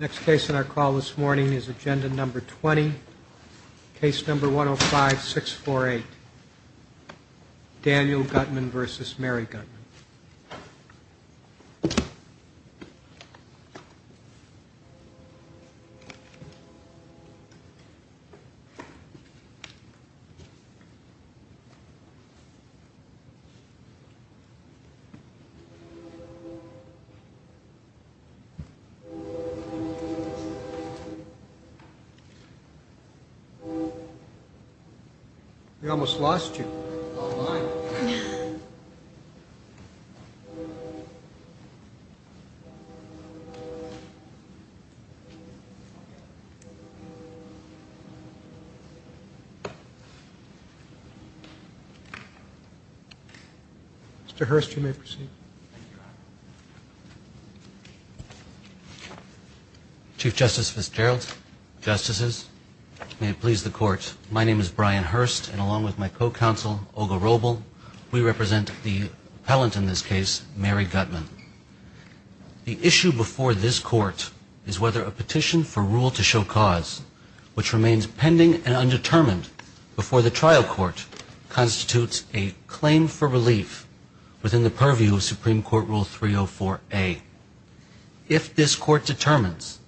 Next case on our call this morning is agenda number 20, case number 105-648, Daniel Gutman v. Mary Gutman. We almost lost you. Mr. Hurst, you may proceed. Chief Justice Fitzgerald, Justices, may it please the Court, my name is Brian Hurst and along with my co-counsel, Olga Robel, we represent the appellant in this case, Mary Gutman. The issue before this Court is whether a petition for rule to show cause, which remains pending and undetermined before the trial court, constitutes a claim for relief within the purview of Supreme Court Rule 304A. If this Court determines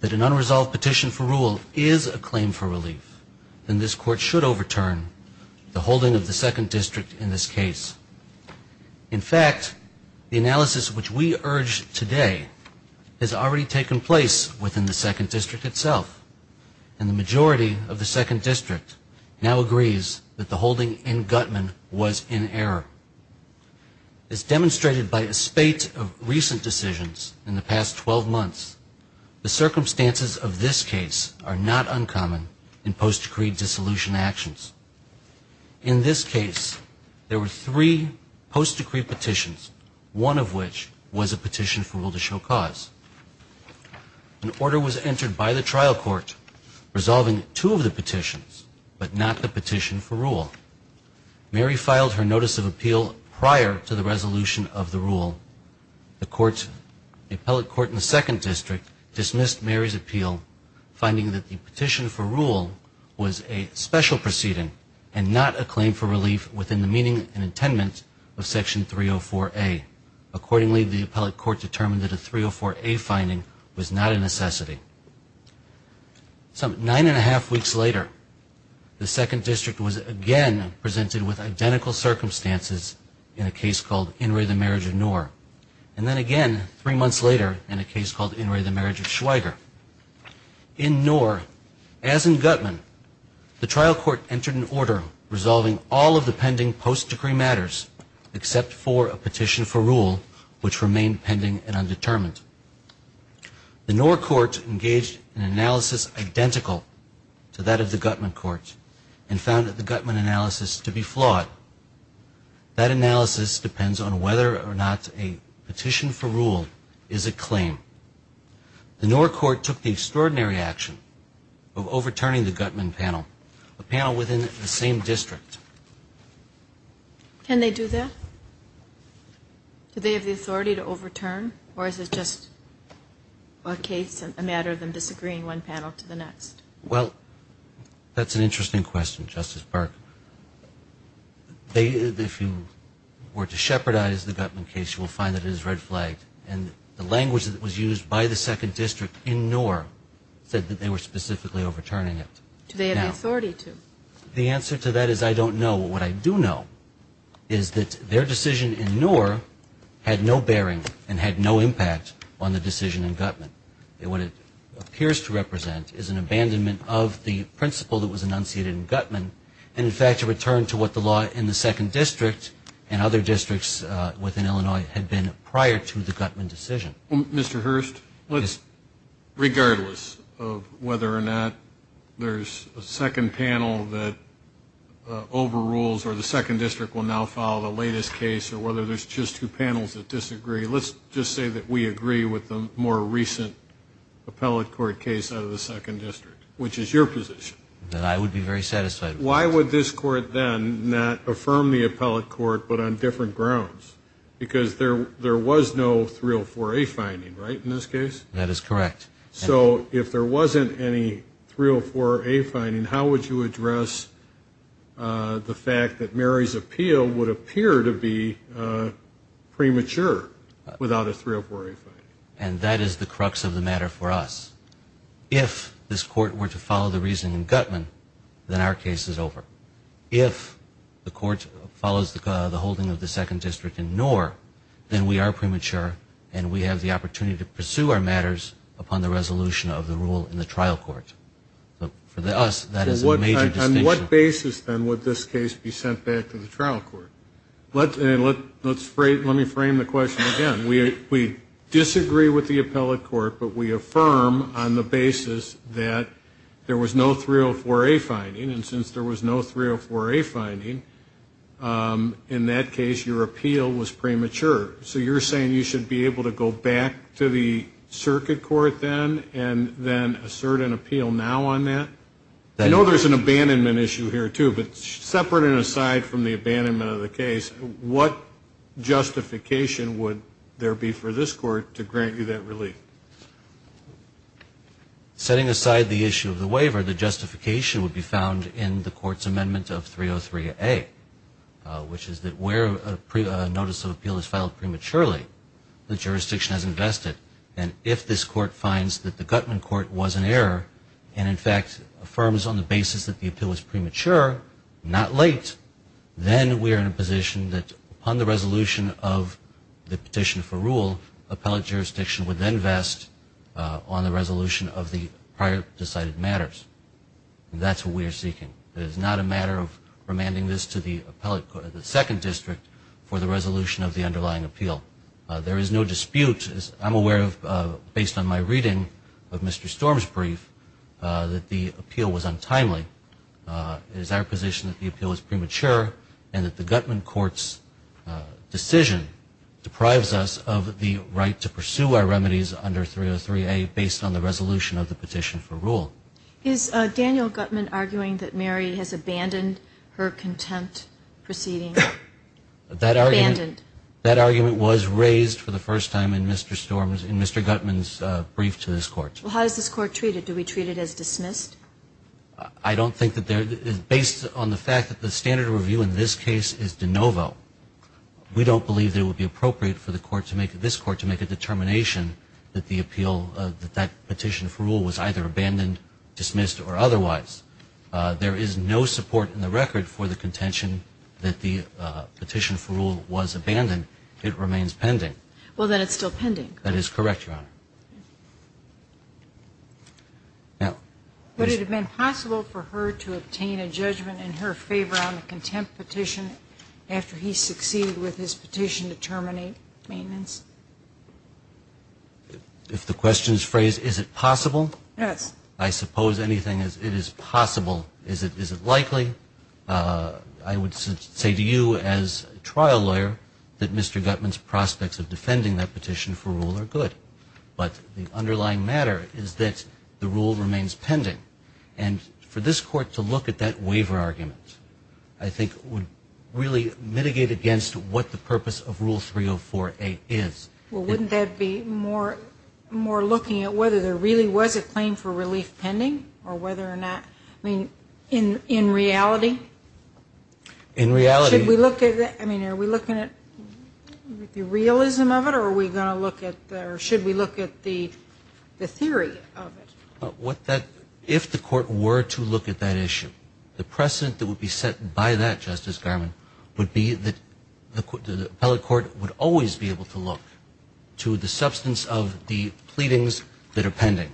that an unresolved petition for rule is a claim for relief, then this Court should overturn the holding of the Second District in this case. In fact, the analysis which we urge today has already taken place within the Second District itself, and the majority of the Second District now agrees that the holding in Gutman was in error. As demonstrated by a spate of recent decisions in the past 12 months, the circumstances of this case are not uncommon in post-decreed dissolution actions. In this case, there were three post-decreed petitions, one of which was a petition for rule to show cause. An order was entered by the trial court resolving two of the petitions, but not the petition for rule. Mary filed her notice of appeal prior to the resolution of the rule. The appellate court in the Second District dismissed Mary's appeal, finding that the petition for rule was a special proceeding and not a claim for relief within the meaning and intent of Section 304A. Accordingly, the appellate court determined that a 304A finding was not a necessity. Some nine and a half weeks later, the Second District was again presented with identical circumstances in a case called In re the Marriage of Knorr, and then again three months later in a case called In re the Marriage of Schweiger. In Knorr, as in Gutman, the trial court entered an order resolving all of the pending post-decree matters, except for a petition for rule, which remained pending and undetermined. The Knorr court engaged in an analysis identical to that of the Gutman court and found that the Gutman analysis to be flawed. That analysis depends on whether or not a petition for rule is a claim. The Knorr court took the extraordinary action of overturning the Gutman panel, a panel within the same district. Can they do that? Do they have the authority to overturn? Or is it just a case, a matter of them disagreeing one panel to the next? Well, that's an interesting question, Justice Burke. If you were to shepherdize the Gutman case, you will find that it is red flagged. And the language that was used by the Second District in Knorr said that they were specifically overturning it. Do they have the authority to? The answer to that is I don't know. What I do know is that their decision in Knorr had no bearing and had no impact on the decision in Gutman. What it appears to represent is an abandonment of the principle that was enunciated in Gutman and, in fact, a return to what the law in the Second District and other districts within Illinois had been prior to the Gutman decision. Mr. Hurst, regardless of whether or not there's a second panel that overrules or the Second District will now follow the latest case or whether there's just two panels that disagree, let's just say that we agree with the more recent appellate court case out of the Second District, which is your position. Then I would be very satisfied. Why would this court then not affirm the appellate court but on different grounds? Because there was no 304A finding, right, in this case? That is correct. So if there wasn't any 304A finding, how would you address the fact that Mary's appeal would appear to be premature without a 304A finding? And that is the crux of the matter for us. If this court were to follow the reasoning in Gutman, then our case is over. If the court follows the holding of the Second District in Knorr, then we are premature and we have the opportunity to pursue our matters upon the resolution of the rule in the trial court. For us, that is a major distinction. On what basis, then, would this case be sent back to the trial court? Let me frame the question again. We disagree with the appellate court, but we affirm on the basis that there was no 304A finding, and since there was no 304A finding, in that case your appeal was premature. So you're saying you should be able to go back to the circuit court then and then assert an appeal now on that? I know there's an abandonment issue here, too, but separate and aside from the abandonment of the case, what justification would there be for this court to grant you that relief? Setting aside the issue of the waiver, the justification would be found in the court's amendment of 303A, which is that where a notice of appeal is filed prematurely, the jurisdiction has invested. And if this court finds that the Gutman court was in error and, in fact, affirms on the basis that the appeal was premature, not late, then we are in a position that upon the resolution of the petition for rule, appellate jurisdiction would then vest on the resolution of the prior decided matters. That's what we are seeking. It is not a matter of remanding this to the second district for the resolution of the underlying appeal. There is no dispute, as I'm aware of based on my reading of Mr. Storm's brief, that the appeal was untimely. It is our position that the appeal was premature and that the Gutman court's decision deprives us of the right to pursue our remedies under 303A based on the resolution of the petition for rule. Is Daniel Gutman arguing that Mary has abandoned her contempt proceeding? Abandoned. That argument was raised for the first time in Mr. Storm's, in Mr. Gutman's brief to this court. Well, how is this court treated? Do we treat it as dismissed? I don't think that there is. Based on the fact that the standard review in this case is de novo, we don't believe it would be appropriate for the court to make, this court to make a determination that the appeal, that that petition for rule was either abandoned, dismissed, or otherwise. There is no support in the record for the contention that the petition for rule was abandoned. It remains pending. Well, then it's still pending. That is correct, Your Honor. Would it have been possible for her to obtain a judgment in her favor on the contempt petition after he succeeded with his petition to terminate maintenance? If the question is phrased, is it possible? Yes. I suppose anything is possible. Is it likely? I would say to you as a trial lawyer that Mr. Gutman's prospects of defending that petition for rule are good. But the underlying matter is that the rule remains pending. And for this court to look at that waiver argument, I think, would really mitigate against what the purpose of Rule 304A is. Well, wouldn't that be more looking at whether there really was a claim for relief pending or whether or not, I mean, in reality? In reality. Should we look at, I mean, are we looking at the realism of it or are we going to look at, or should we look at the theory of it? If the court were to look at that issue, the precedent that would be set by that, Justice Garmon, would be that the appellate court would always be able to look to the substance of the pleadings that are pending.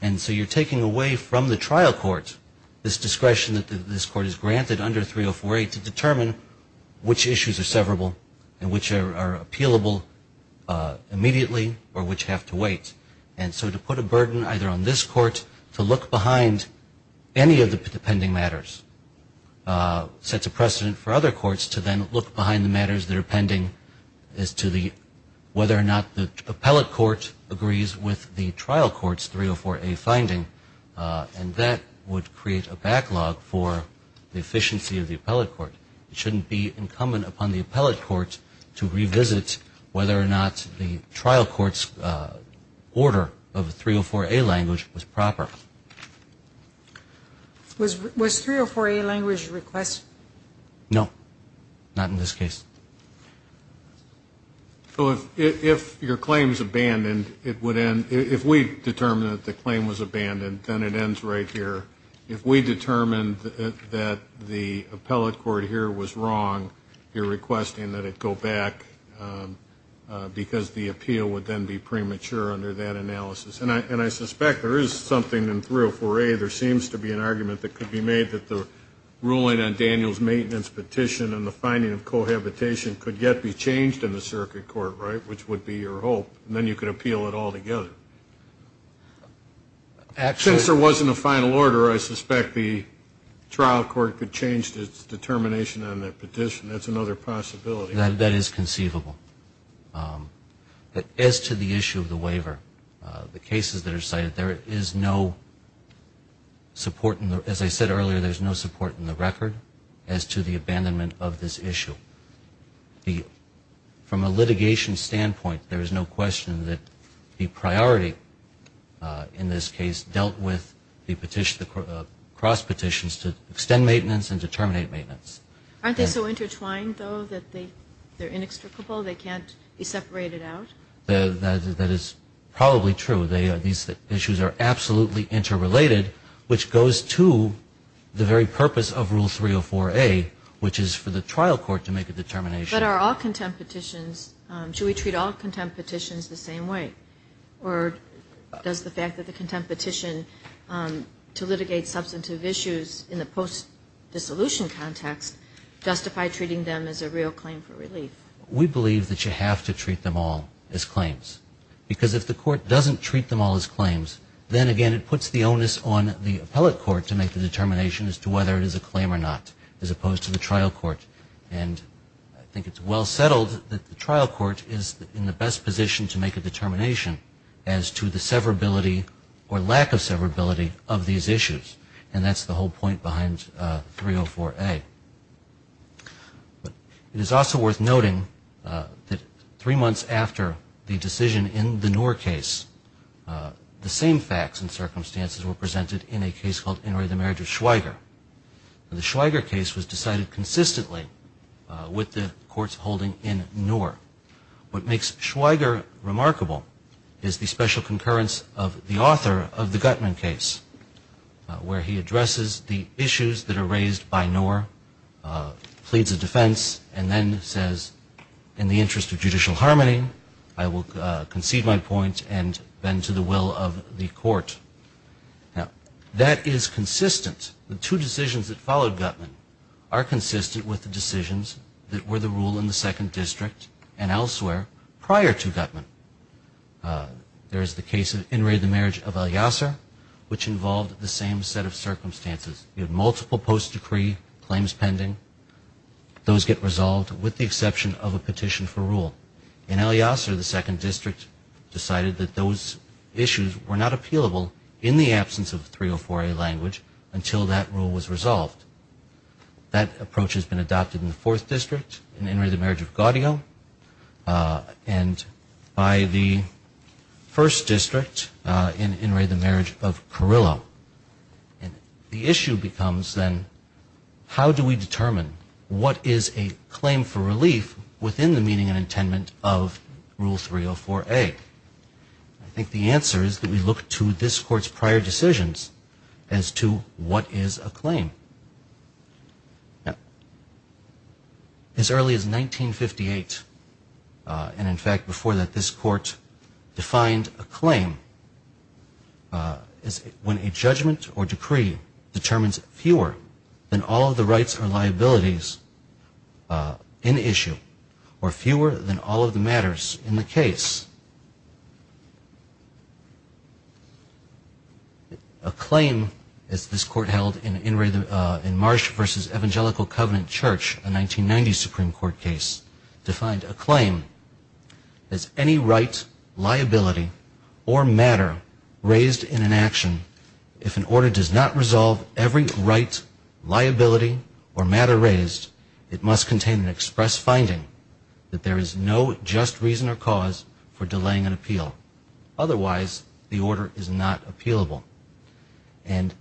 And so you're taking away from the trial court this discretion that this court is granted under 304A to determine which issues are severable and which are appealable immediately or which have to wait. And so to put a burden either on this court to look behind any of the pending matters sets a precedent for other courts to then look behind the matters that are pending as to whether or not the appellate court agrees with the trial court's 304A finding. And that would create a backlog for the efficiency of the appellate court. It shouldn't be incumbent upon the appellate court to revisit whether or not the trial court's order of the 304A language was proper. Was 304A language requested? No, not in this case. So if your claim is abandoned, it would end. If we determined that the claim was abandoned, then it ends right here. If we determined that the appellate court here was wrong, you're requesting that it go back because the appeal would then be premature under that analysis. And I suspect there is something in 304A. There seems to be an argument that could be made that the ruling on Daniel's maintenance petition and the finding of cohabitation could yet be changed in the circuit court, right, which would be your hope, and then you could appeal it altogether. Since there wasn't a final order, I suspect the trial court could change its determination on that petition. That's another possibility. That is conceivable. But as to the issue of the waiver, the cases that are cited, there is no support in the, as I said earlier, there's no support in the record as to the abandonment of this issue. From a litigation standpoint, there is no question that the priority in this case dealt with the cross petitions to extend maintenance and to terminate maintenance. Aren't they so intertwined, though, that they're inextricable, they can't be separated out? That is probably true. These issues are absolutely interrelated, which goes to the very purpose of Rule 304A, which is for the trial court to make a determination. But are all contempt petitions, should we treat all contempt petitions the same way? Or does the fact that the contempt petition to litigate substantive issues in the post-dissolution context justify treating them as a real claim for relief? We believe that you have to treat them all as claims. Because if the court doesn't treat them all as claims, then, again, it puts the onus on the appellate court to make the determination as to whether it is a claim or not, as opposed to the trial court. And I think it's well settled that the trial court is in the best position to make a determination as to the severability or lack of severability of these issues. And that's the whole point behind 304A. It is also worth noting that three months after the decision in the Noor case, the same facts and circumstances were presented in a case called Inouye the Marriage of Schweiger. The Schweiger case was decided consistently with the court's holding in Noor. What makes Schweiger remarkable is the special concurrence of the author of the Gutman case, where he addresses the issues that are raised by Noor, pleads a defense, and then says, in the interest of judicial harmony, I will concede my point and bend to the will of the court. Now, that is consistent. The two decisions that followed Gutman are consistent with the decisions that were the rule in the Second District and elsewhere prior to Gutman. There is the case of Inouye the Marriage of El Yasser, which involved the same set of circumstances. You had multiple post-decree claims pending. Those get resolved with the exception of a petition for rule. In El Yasser, the Second District decided that those issues were not appealable in the absence of 304A language until that rule was resolved. That approach has been adopted in the Fourth District, in Inouye the Marriage of Gaudio, and by the First District in Inouye the Marriage of Carrillo. And the issue becomes, then, how do we determine what is a claim for relief within the meaning and intent of rule 304A? I think the answer is that we look to this court's prior decisions as to what is a claim. Now, as early as 1958, and in fact, before that, this court defined a claim. It's when a judgment or decree determines fewer than all of the rights or liabilities in issue, or fewer than all of the matters in the case. A claim, as this court held in Marsh v. Evangelical Covenant Church, a 1990 Supreme Court case, defined a claim as any right, liability, or matter raised in an action. If an order does not resolve every right, liability, or matter raised, it must contain an express finding that there is no just reason or cause for delaying an appeal. Otherwise, the order is not appealable. And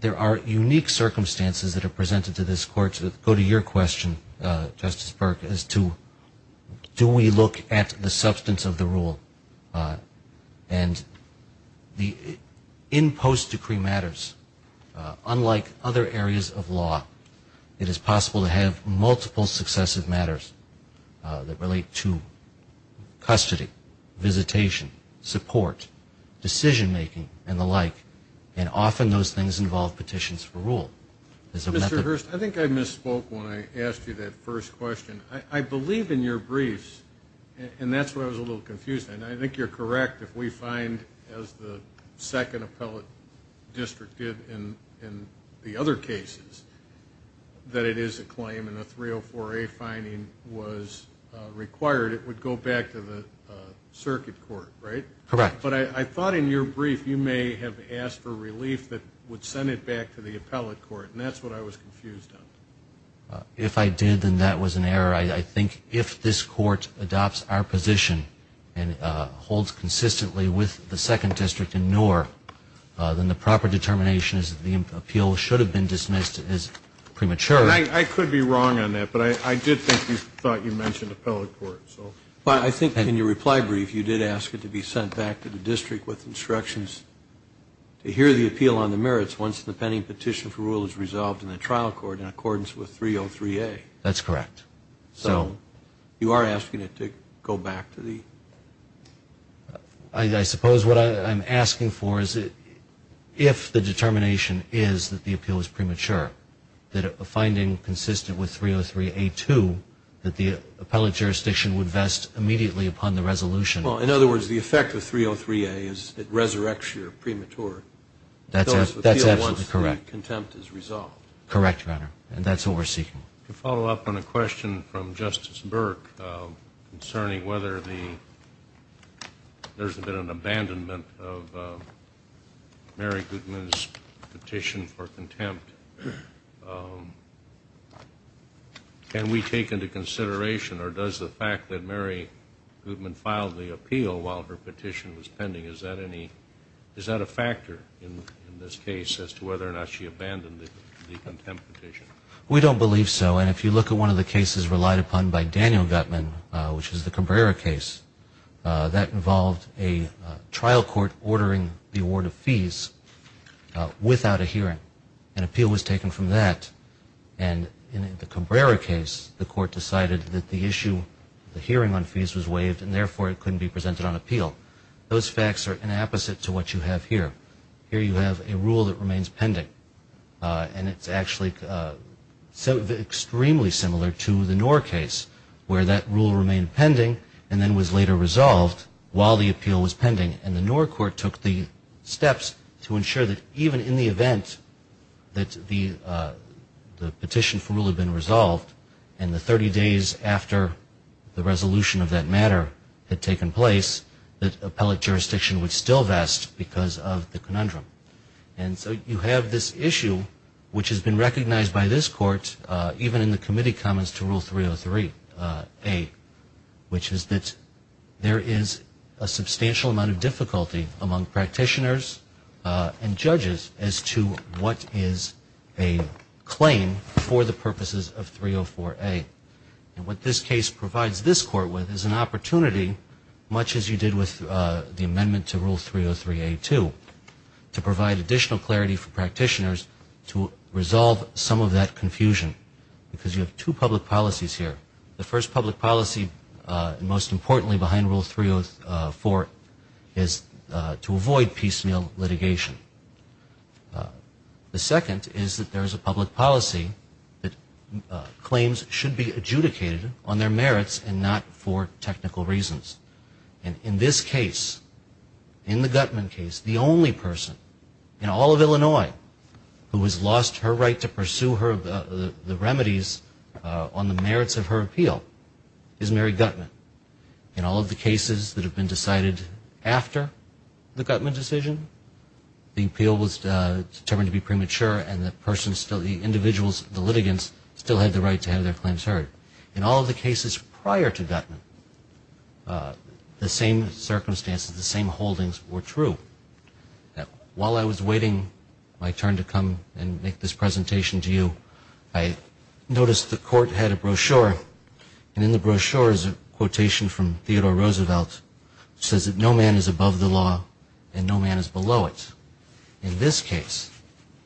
there are unique circumstances that are presented to this court that go to your question, Justice Burke, as to do we look at the substance of the rule. And in post-decree matters, unlike other areas of law, it is possible to have multiple successive matters that relate to custody, visitation, support, decision-making, and the like, and often those things involve petitions for rule. Mr. Hurst, I think I misspoke when I asked you that first question. I believe in your briefs, and that's where I was a little confused, and I think you're correct if we find, as the second appellate district did in the other cases, that it is a claim and a 304A finding was required, it would go back to the circuit court, right? Correct. But I thought in your brief you may have asked for relief that would send it back to the appellate court, and that's what I was confused on. If I did, then that was an error. I think if this court adopts our position and holds consistently with the second district in Noor, then the proper determination is that the appeal should have been dismissed as premature. I could be wrong on that, but I did think you thought you mentioned appellate court. Well, I think in your reply brief you did ask it to be sent back to the district with instructions to hear the appeal on the merits once the pending petition for rule is resolved in the trial court in accordance with 303A. That's correct. So you are asking it to go back to the? I suppose what I'm asking for is if the determination is that the appeal is premature, that a finding consistent with 303A2, that the appellate jurisdiction would vest immediately upon the resolution. Well, in other words, the effect of 303A is it resurrects your premature. That's absolutely correct. Once the contempt is resolved. Correct, Your Honor, and that's what we're seeking. To follow up on a question from Justice Burke concerning whether there's been an abandonment of Mary Goodman's petition for contempt, can we take into consideration or does the fact that Mary Goodman filed the appeal while her petition was pending, is that a factor in this case as to whether or not she abandoned the contempt petition? We don't believe so, and if you look at one of the cases relied upon by Daniel Gutman, which is the Cabrera case, that involved a trial court ordering the award of fees without a hearing. An appeal was taken from that, and in the Cabrera case, the court decided that the issue, the hearing on fees was waived and, therefore, it couldn't be presented on appeal. Those facts are an opposite to what you have here. Here you have a rule that remains pending, and it's actually extremely similar to the Knorr case, where that rule remained pending and then was later resolved while the appeal was pending, and the Knorr court took the steps to ensure that even in the event that the petition for rule had been resolved and the 30 days after the resolution of that matter had taken place, that appellate jurisdiction would still vest because of the conundrum. And so you have this issue, which has been recognized by this court, even in the committee comments to Rule 303A, which is that there is a substantial amount of difficulty among practitioners and judges as to what is a claim for the purposes of 304A. And what this case provides this court with is an opportunity, much as you did with the amendment to Rule 303A-2, to provide additional clarity for practitioners to resolve some of that confusion because you have two public policies here. The first public policy, most importantly behind Rule 304, is to avoid piecemeal litigation. The second is that there is a public policy that claims should be adjudicated on their merits and not for technical reasons. And in this case, in the Guttman case, the only person in all of Illinois who has lost her right to pursue the remedies on the merits of her appeal is Mary Guttman. In all of the cases that have been decided after the Guttman decision, the appeal was determined to be premature and the individuals, the litigants, still had the right to have their claims heard. In all of the cases prior to Guttman, the same circumstances, the same holdings were true. While I was waiting my turn to come and make this presentation to you, I noticed the court had a brochure, and in the brochure is a quotation from Theodore Roosevelt that says that no man is above the law and no man is below it. In this case,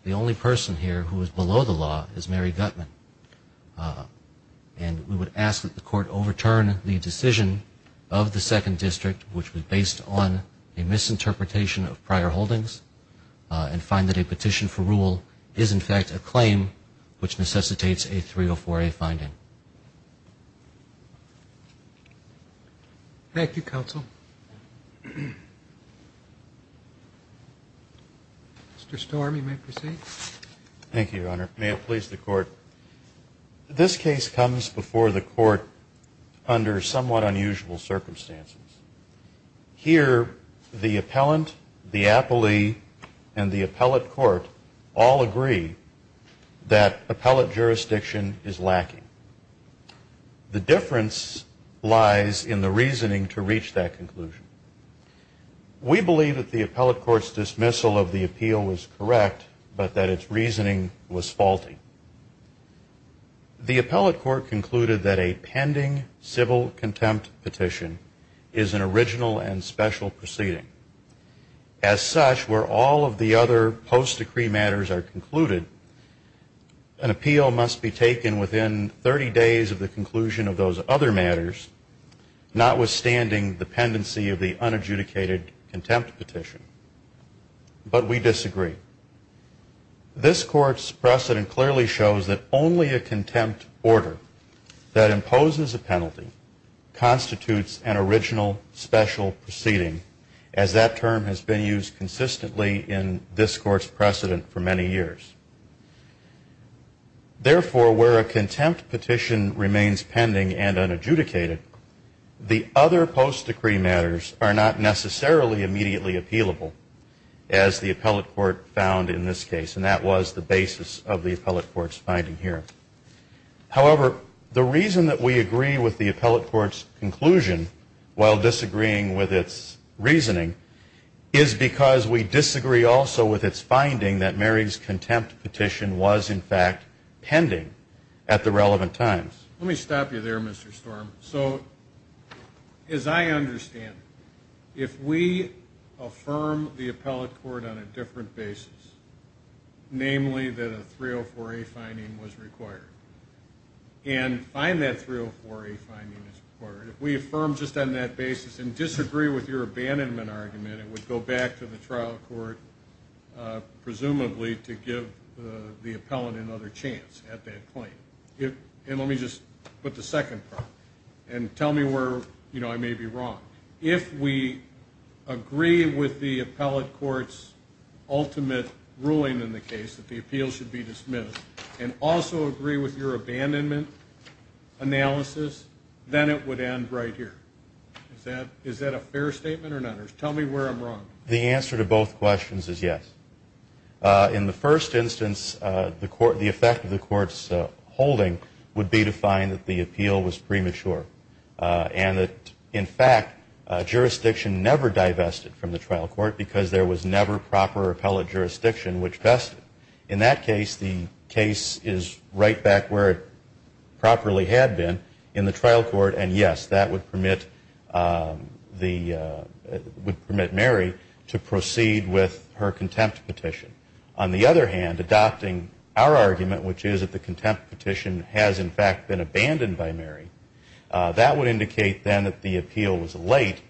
the only person here who is below the law is Mary Guttman, and we would ask that the court overturn the decision of the Second District, which was based on a misinterpretation of prior holdings, and find that a petition for rule is, in fact, a claim which necessitates a 304A finding. Thank you, Counsel. Mr. Storm, you may proceed. Thank you, Your Honor. May it please the Court. This case comes before the Court under somewhat unusual circumstances. Here, the appellant, the appellee, and the appellate court all agree that appellate jurisdiction is lacking. The difference lies in the reasoning to reach that conclusion. We believe that the appellate court's dismissal of the appeal was correct, but that its reasoning was faulty. The appellate court concluded that a pending civil contempt petition is an original and special proceeding. As such, where all of the other post-decree matters are concluded, an appeal must be taken within 30 days of the conclusion of those other matters, notwithstanding the pendency of the unadjudicated contempt petition. But we disagree. This Court's precedent clearly shows that only a contempt order that imposes a penalty constitutes an original special proceeding, as that term has been used consistently in this Court's precedent for many years. Therefore, where a contempt petition remains pending and unadjudicated, the other post-decree matters are not necessarily immediately appealable, as the appellate court found in this case, and that was the basis of the appellate court's finding here. However, the reason that we agree with the appellate court's conclusion while disagreeing with its reasoning is because we disagree also with its finding that Mary's contempt petition was, in fact, pending at the relevant times. Let me stop you there, Mr. Storm. So, as I understand, if we affirm the appellate court on a different basis, namely that a 304A finding was required, and find that 304A finding is required, if we affirm just on that basis and disagree with your abandonment argument, it would go back to the trial court, presumably, to give the appellant another chance at that claim. And let me just put the second part, and tell me where I may be wrong. If we agree with the appellate court's ultimate ruling in the case that the appeal should be dismissed and also agree with your abandonment analysis, then it would end right here. Is that a fair statement or not? Tell me where I'm wrong. The answer to both questions is yes. In the first instance, the effect of the court's holding would be to find that the appeal was premature and that, in fact, jurisdiction never divested from the trial court because there was never proper appellate jurisdiction which vested. In that case, the case is right back where it properly had been in the trial court, and yes, that would permit Mary to proceed with her contempt petition. On the other hand, adopting our argument, which is that the contempt petition has, in fact, been abandoned by Mary, that would indicate then that the appeal was late,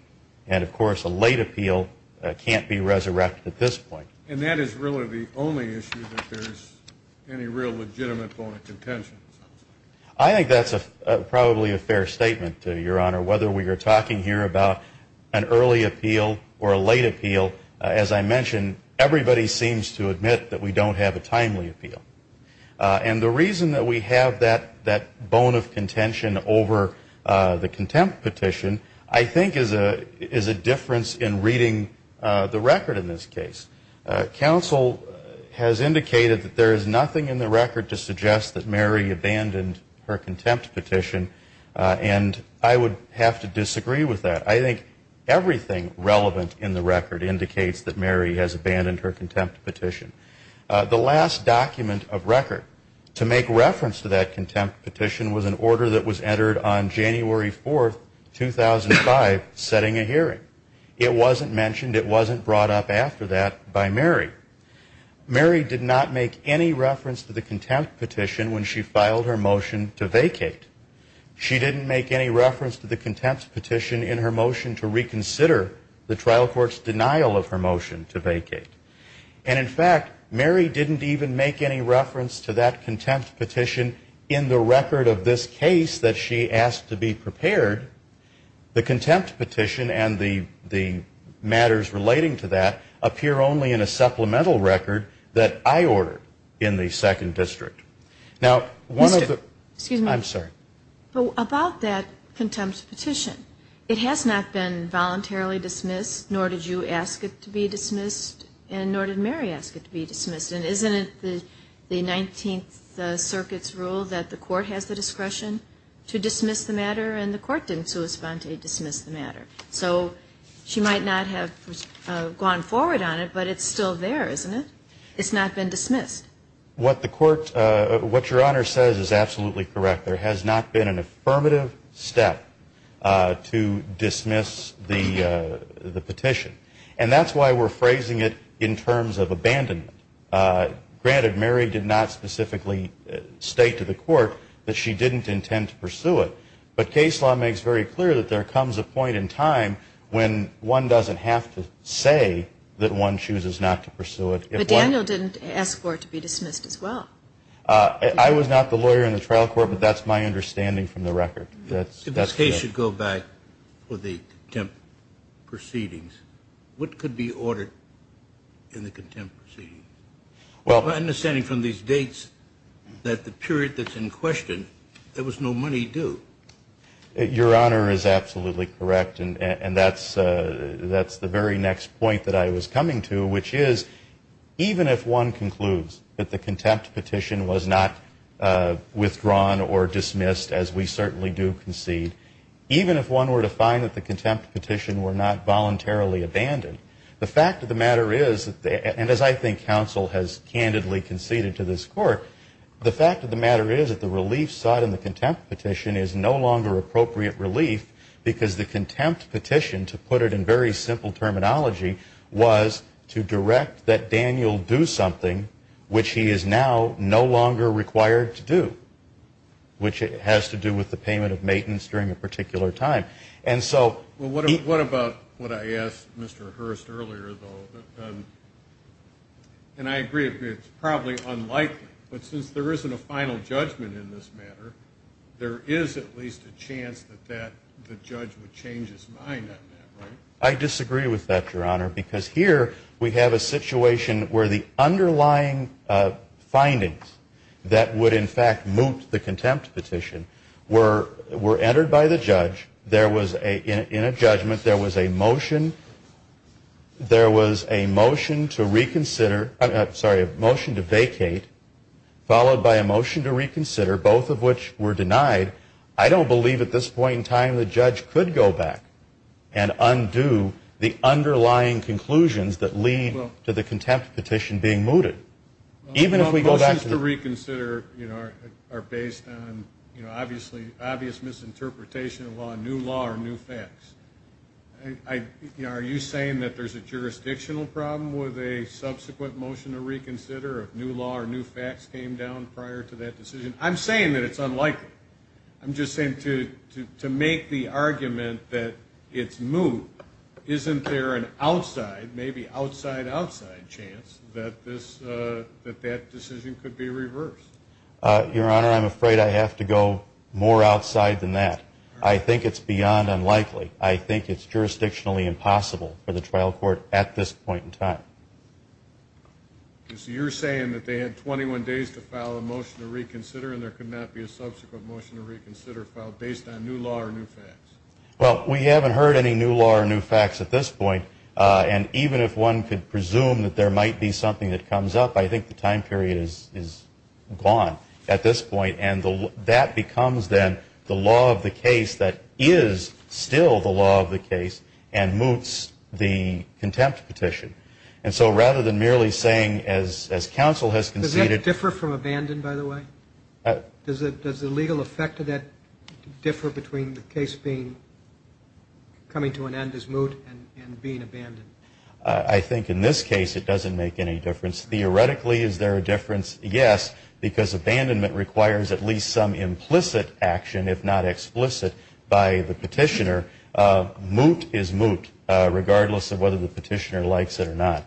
and, of course, a late appeal can't be resurrected at this point. And that is really the only issue that there's any real legitimate point of contention. I think that's probably a fair statement, Your Honor. Whether we are talking here about an early appeal or a late appeal, as I mentioned, everybody seems to admit that we don't have a timely appeal. And the reason that we have that bone of contention over the contempt petition, I think is a difference in reading the record in this case. Counsel has indicated that there is nothing in the record to suggest that Mary abandoned her contempt petition, and I would have to disagree with that. I think everything relevant in the record indicates that Mary has abandoned her contempt petition. The last document of record to make reference to that contempt petition was an order that was entered on January 4, 2005, setting a hearing. It wasn't mentioned. It wasn't brought up after that by Mary. Mary did not make any reference to the contempt petition when she filed her motion to vacate. She didn't make any reference to the contempt petition in her motion to reconsider the trial court's denial of her motion to vacate. And, in fact, Mary didn't even make any reference to that contempt petition in the record of this case that she asked to be prepared. The contempt petition and the matters relating to that appear only in a supplemental record that I ordered in the Second District. Now, one of the Excuse me. I'm sorry. About that contempt petition, it has not been voluntarily dismissed, nor did you ask it to be dismissed, and nor did Mary ask it to be dismissed. And isn't it the Nineteenth Circuit's rule that the court has the discretion to dismiss the matter, and the court didn't so espontaneously dismiss the matter? So she might not have gone forward on it, but it's still there, isn't it? It's not been dismissed. What the court, what Your Honor says is absolutely correct. There has not been an affirmative step to dismiss the petition. And that's why we're phrasing it in terms of abandonment. Granted, Mary did not specifically state to the court that she didn't intend to pursue it, but case law makes very clear that there comes a point in time when one doesn't have to say that one chooses not to pursue it. But Daniel didn't ask for it to be dismissed as well. I was not the lawyer in the trial court, but that's my understanding from the record. If this case should go back for the contempt proceedings, what could be ordered in the contempt proceedings? My understanding from these dates that the period that's in question, there was no money due. Your Honor is absolutely correct, and that's the very next point that I was coming to, which is even if one concludes that the contempt petition was not withdrawn or dismissed, as we certainly do concede, even if one were to find that the contempt petition were not voluntarily abandoned, the fact of the matter is, and as I think counsel has candidly conceded to this court, the fact of the matter is that the relief sought in the contempt petition is no longer appropriate relief because the contempt petition, to put it in very simple terminology, was to direct that Daniel do something which he is now no longer required to do, which has to do with the payment of maintenance during a particular time. Well, what about what I asked Mr. Hurst earlier, though? And I agree, it's probably unlikely, but since there isn't a final judgment in this matter, there is at least a chance that the judge would change his mind on that, right? I disagree with that, Your Honor, because here we have a situation where the underlying findings that would in fact moot the contempt petition were entered by the judge. In a judgment there was a motion to vacate followed by a motion to reconsider, both of which were denied. I don't believe at this point in time the judge could go back and undo the underlying conclusions that lead to the contempt petition being mooted. Motions to reconsider are based on obvious misinterpretation of law, new law or new facts. Are you saying that there's a jurisdictional problem with a subsequent motion to reconsider if new law or new facts came down prior to that decision? I'm saying that it's unlikely. I'm just saying to make the argument that it's moot, isn't there an outside, outside chance that that decision could be reversed? Your Honor, I'm afraid I have to go more outside than that. I think it's beyond unlikely. I think it's jurisdictionally impossible for the trial court at this point in time. So you're saying that they had 21 days to file a motion to reconsider and there could not be a subsequent motion to reconsider filed based on new law or new facts? Well, we haven't heard any new law or new facts at this point, and even if one could presume that there might be something that comes up, I think the time period is gone at this point, and that becomes then the law of the case that is still the law of the case and moots the contempt petition. And so rather than merely saying, as counsel has conceded – Does that differ from abandon, by the way? Does the legal effect of that differ between the case coming to an end as moot and being abandoned? I think in this case it doesn't make any difference. Theoretically, is there a difference? Yes, because abandonment requires at least some implicit action, if not explicit, by the petitioner. Moot is moot, regardless of whether the petitioner likes it or not.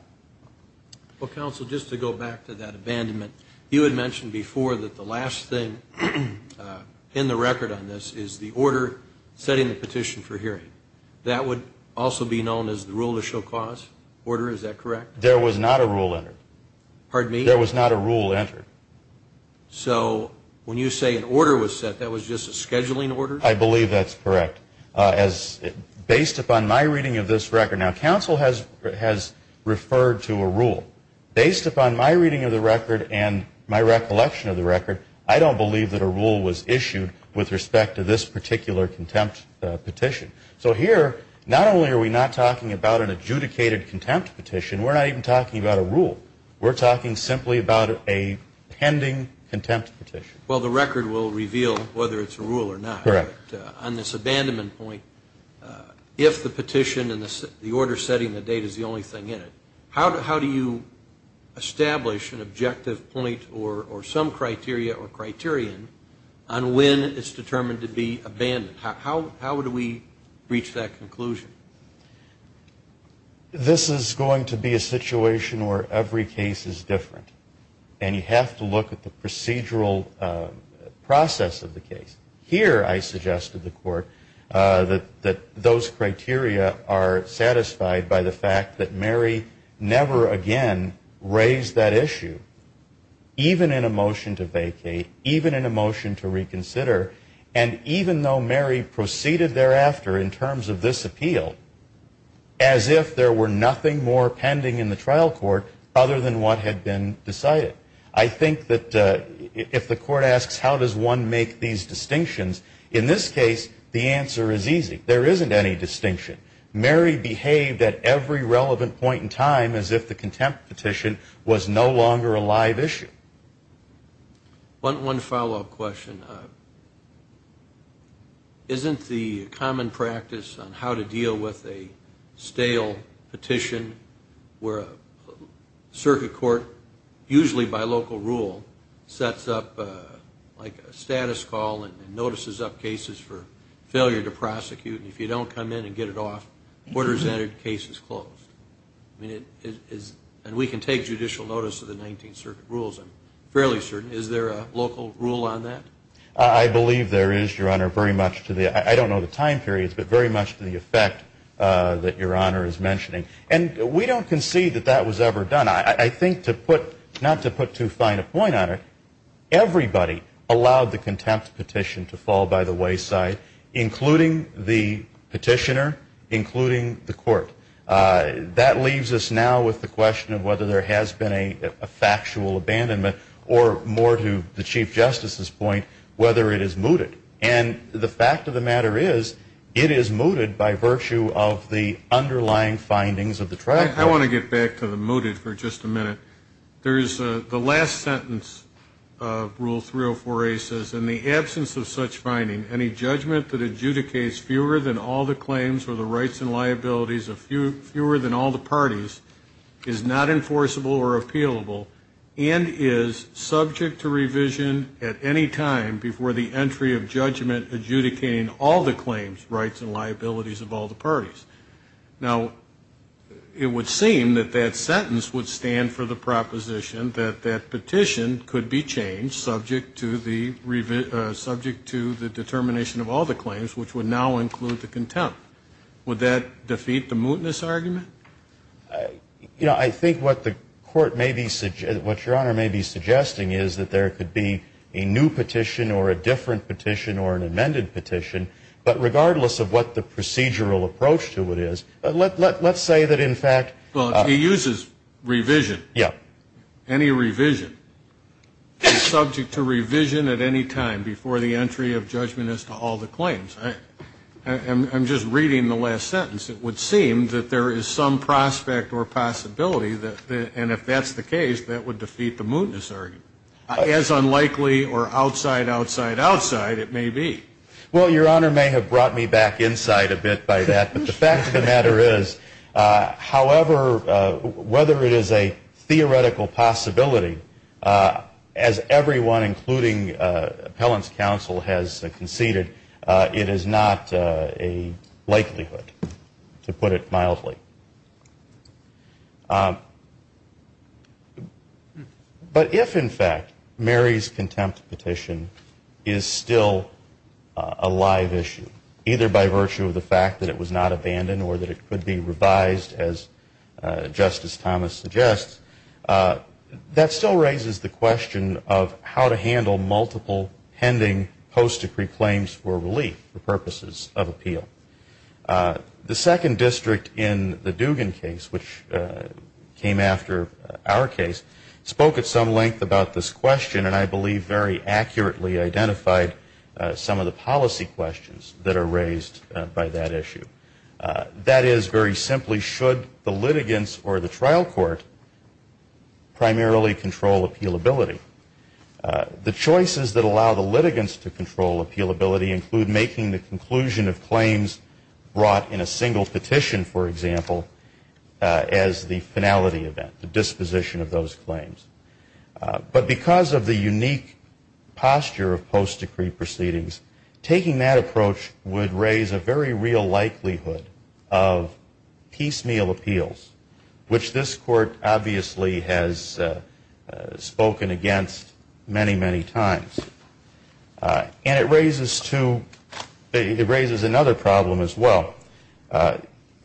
Well, counsel, just to go back to that abandonment, you had mentioned before that the last thing in the record on this is the order setting the petition for hearing. That would also be known as the rule of show cause order, is that correct? There was not a rule entered. Pardon me? There was not a rule entered. So when you say an order was set, that was just a scheduling order? I believe that's correct. Based upon my reading of this record – now, counsel has referred to a rule. Based upon my reading of the record and my recollection of the record, I don't believe that a rule was issued with respect to this particular contempt petition. So here, not only are we not talking about an adjudicated contempt petition, we're not even talking about a rule. We're talking simply about a pending contempt petition. Well, the record will reveal whether it's a rule or not. Correct. On this abandonment point, if the petition and the order setting the date is the only thing in it, how do you establish an objective point or some criteria or criterion on when it's determined to be abandoned? How do we reach that conclusion? This is going to be a situation where every case is different, and you have to look at the procedural process of the case. Here, I suggest to the Court that those criteria are satisfied by the fact that Mary never again raised that issue, even in a motion to vacate, even in a motion to reconsider, and even though Mary proceeded thereafter in terms of this appeal, as if there were nothing more pending in the trial court other than what had been decided. I think that if the Court asks how does one make these distinctions, in this case, the answer is easy. There isn't any distinction. Mary behaved at every relevant point in time as if the contempt petition was no longer a live issue. One follow-up question. Isn't the common practice on how to deal with a stale petition where a circuit court, usually by local rule, sets up a status call and notices up cases for failure to prosecute, and if you don't come in and get it off, the order is entered, the case is closed? We can take judicial notice of the 19th Circuit rules, I'm fairly certain. Is there a local rule on that? I believe there is, Your Honor, very much to the, I don't know the time periods, but very much to the effect that Your Honor is mentioning. And we don't concede that that was ever done. I think to put, not to put too fine a point on it, everybody allowed the contempt petition to fall by the wayside, including the petitioner, including the Court. That leaves us now with the question of whether there has been a factual abandonment or more to the Chief Justice's point, whether it is mooted. And the fact of the matter is, it is mooted by virtue of the underlying findings of the trial. I want to get back to the mooted for just a minute. There is the last sentence of Rule 304A says, In the absence of such finding, any judgment that adjudicates fewer than all the claims or the rights and liabilities of fewer than all the parties is not enforceable or appealable and is subject to revision at any time before the entry of judgment adjudicating all the claims, rights, and liabilities of all the parties. Now, it would seem that that sentence would stand for the proposition that that petition could be changed subject to the determination of all the claims, which would now include the contempt. Would that defeat the mootness argument? You know, I think what the Court may be ‑‑ what Your Honor may be suggesting is that there could be a new petition or a different petition or an amended petition, but regardless of what the procedural approach to it is, let's say that in fact ‑‑ Well, he uses revision. Yeah. Any revision is subject to revision at any time before the entry of judgment as to all the claims. I'm just reading the last sentence. It would seem that there is some prospect or possibility, and if that's the case, that would defeat the mootness argument. As unlikely or outside, outside, outside it may be. Well, Your Honor may have brought me back inside a bit by that, but the fact of the matter is, however, whether it is a theoretical possibility, as everyone, including appellant's counsel, has conceded, it is not a likelihood, to put it mildly. But if, in fact, Mary's contempt petition is still a live issue, either by virtue of the fact that it was not abandoned or that it could be revised, as Justice Thomas suggests, that still raises the question of how to handle multiple pending post‑decree claims for relief for purposes of appeal. The second district in the Dugan case, which came after our case, spoke at some length about this question and I believe very accurately identified some of the policy questions that are raised by that issue. That is, very simply, should the litigants or the trial court primarily control appealability? The choices that allow the litigants to control appealability include making the conclusion of claims brought in a single petition, for example, as the finality event, the disposition of those claims. But because of the unique posture of post‑decree proceedings, taking that approach would raise a very real likelihood of piecemeal appeals, which this Court obviously has spoken against many, many times. And it raises another problem as well.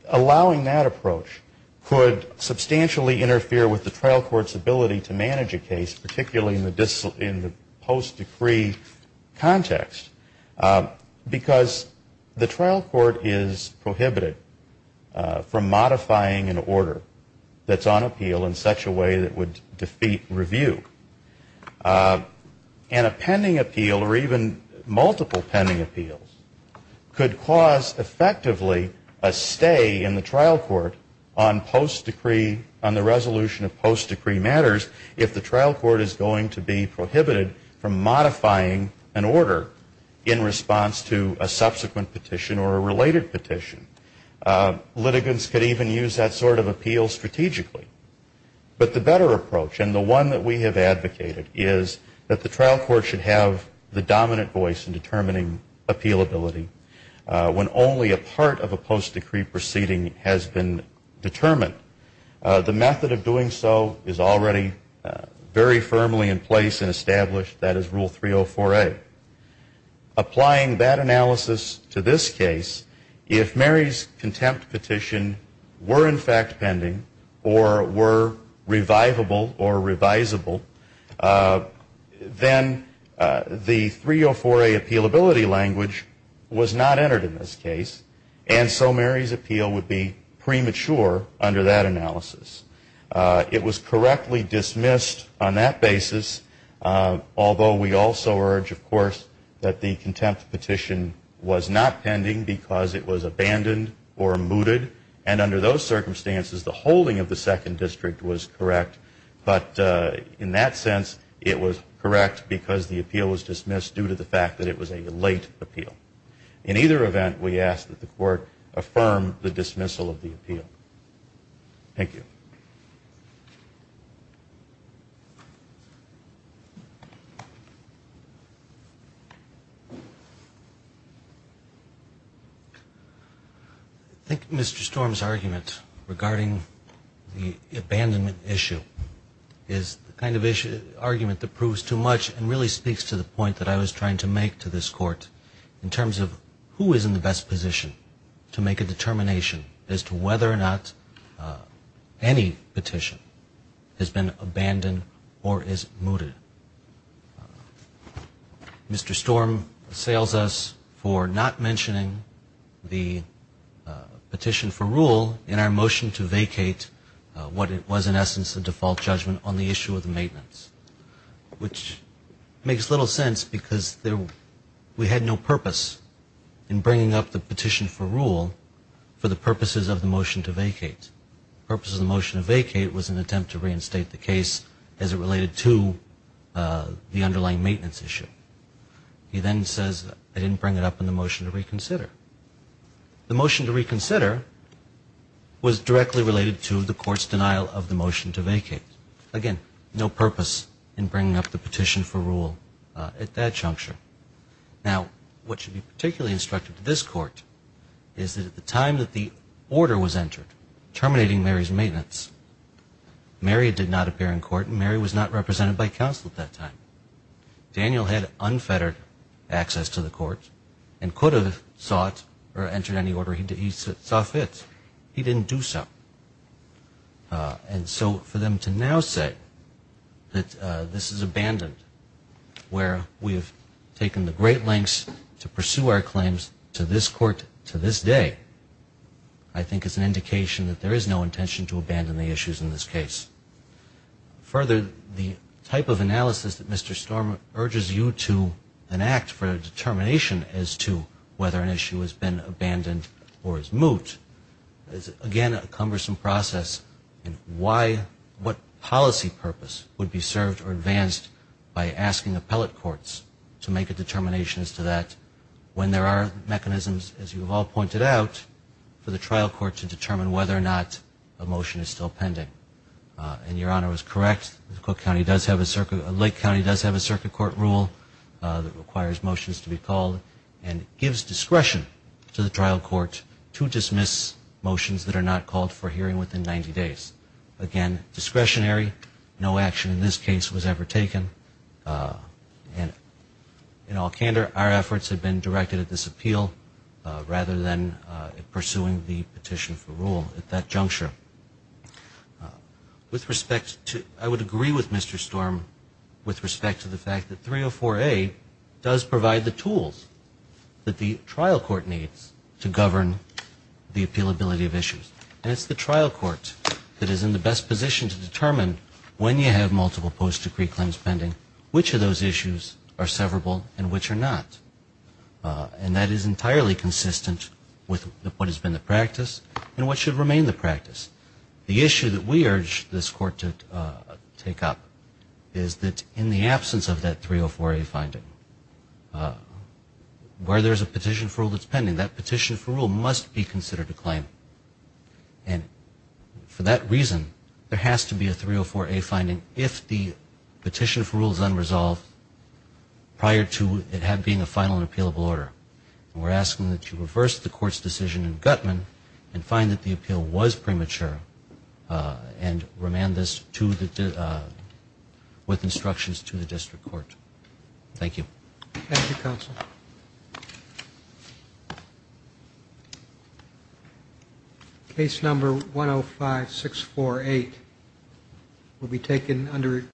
Allowing that approach could substantially interfere with the trial court's ability to manage a case, particularly in the post‑decree context, because the trial court is prohibited from modifying an order that's on appeal in such a way that would defeat review. And a pending appeal or even multiple pending appeals could cause effectively a stay in the trial court on post‑decree, on the resolution of post‑decree matters, if the trial court is going to be prohibited from modifying an order in response to a subsequent petition or a related petition. Litigants could even use that sort of appeal strategically. But the better approach and the one that we have advocated is that the trial court should have the dominant voice in determining appealability when only a part of a post‑decree proceeding has been considered or determined. The method of doing so is already very firmly in place and established. That is Rule 304A. Applying that analysis to this case, if Mary's contempt petition were in fact pending or were revivable or revisable, then the 304A appealability language was not entered in this case. And so Mary's appeal would be premature under that analysis. It was correctly dismissed on that basis, although we also urge, of course, that the contempt petition was not pending because it was abandoned or mooted. And under those circumstances, the holding of the second district was correct. But in that sense, it was correct because the appeal was dismissed due to the fact that it was a late appeal. In either event, we ask that the court affirm the dismissal of the appeal. Thank you. I think Mr. Storm's argument regarding the abandonment issue is the kind of argument that proves too much and really speaks to the point that I was trying to make to this court in terms of who is in the best position to make a determination as to whether or not any petition has been abandoned or is mooted. Mr. Storm assails us for not mentioning the petition for rule in our motion to vacate what it was in essence a default judgment on the issue of the maintenance, which makes little sense because we had no purpose in bringing up the petition for rule for the purposes of the motion to vacate. The purpose of the motion to vacate was an attempt to reinstate the case as it related to the underlying maintenance issue. He then says I didn't bring it up in the motion to reconsider. The motion to reconsider was directly related to the court's denial of the motion to vacate. Again, no purpose in bringing up the petition for rule at that juncture. Now, what should be particularly instructive to this court is that at the time that the order was entered terminating Mary's maintenance, Mary did not appear in court and Mary was not represented by counsel at that time. Daniel had unfettered access to the court and could have sought or entered any order he saw fit. He didn't do so. And so for them to now say that this is abandoned, where we have taken the great lengths to pursue our claims to this court to this day, I think is an indication that there is no intention to abandon the issues in this case. Further, the type of analysis that Mr. Stormer urges you to enact for a determination as to whether an issue has been abandoned or is moot is, again, a cumbersome process. And why, what policy purpose would be served or advanced by asking appellate courts to make a determination as to that when there are mechanisms, as you have all pointed out, for the trial court to determine whether or not a motion is still pending. And your Honor is correct. Lake County does have a circuit court rule that requires motions to be called and gives discretion to the trial court to dismiss motions that are not called for hearing within 90 days. Again, discretionary, no action in this case was ever taken. And in all candor, our efforts have been directed at this appeal rather than pursuing the petition for rule at that juncture. With respect to, I would agree with Mr. Storm, with respect to the fact that 304A does provide the tools that the trial court needs to govern the appealability of issues. And it's the trial court that is in the best position to determine when you have multiple post-decree claims pending, which of those issues are severable and which are not. And that is entirely consistent with what has been the practice and what should remain the practice. The issue that we urge this court to take up is that in the absence of that 304A finding, where there's a petition for rule that's pending, that petition for rule must be considered a claim. And for that reason, there has to be a 304A finding if the petition for rule is unresolved prior to it being a final and appealable order. And we're asking that you reverse the court's decision in Guttman and find that the appeal was premature and remand this to the, with instructions to the district court. Thank you. Thank you, Counsel.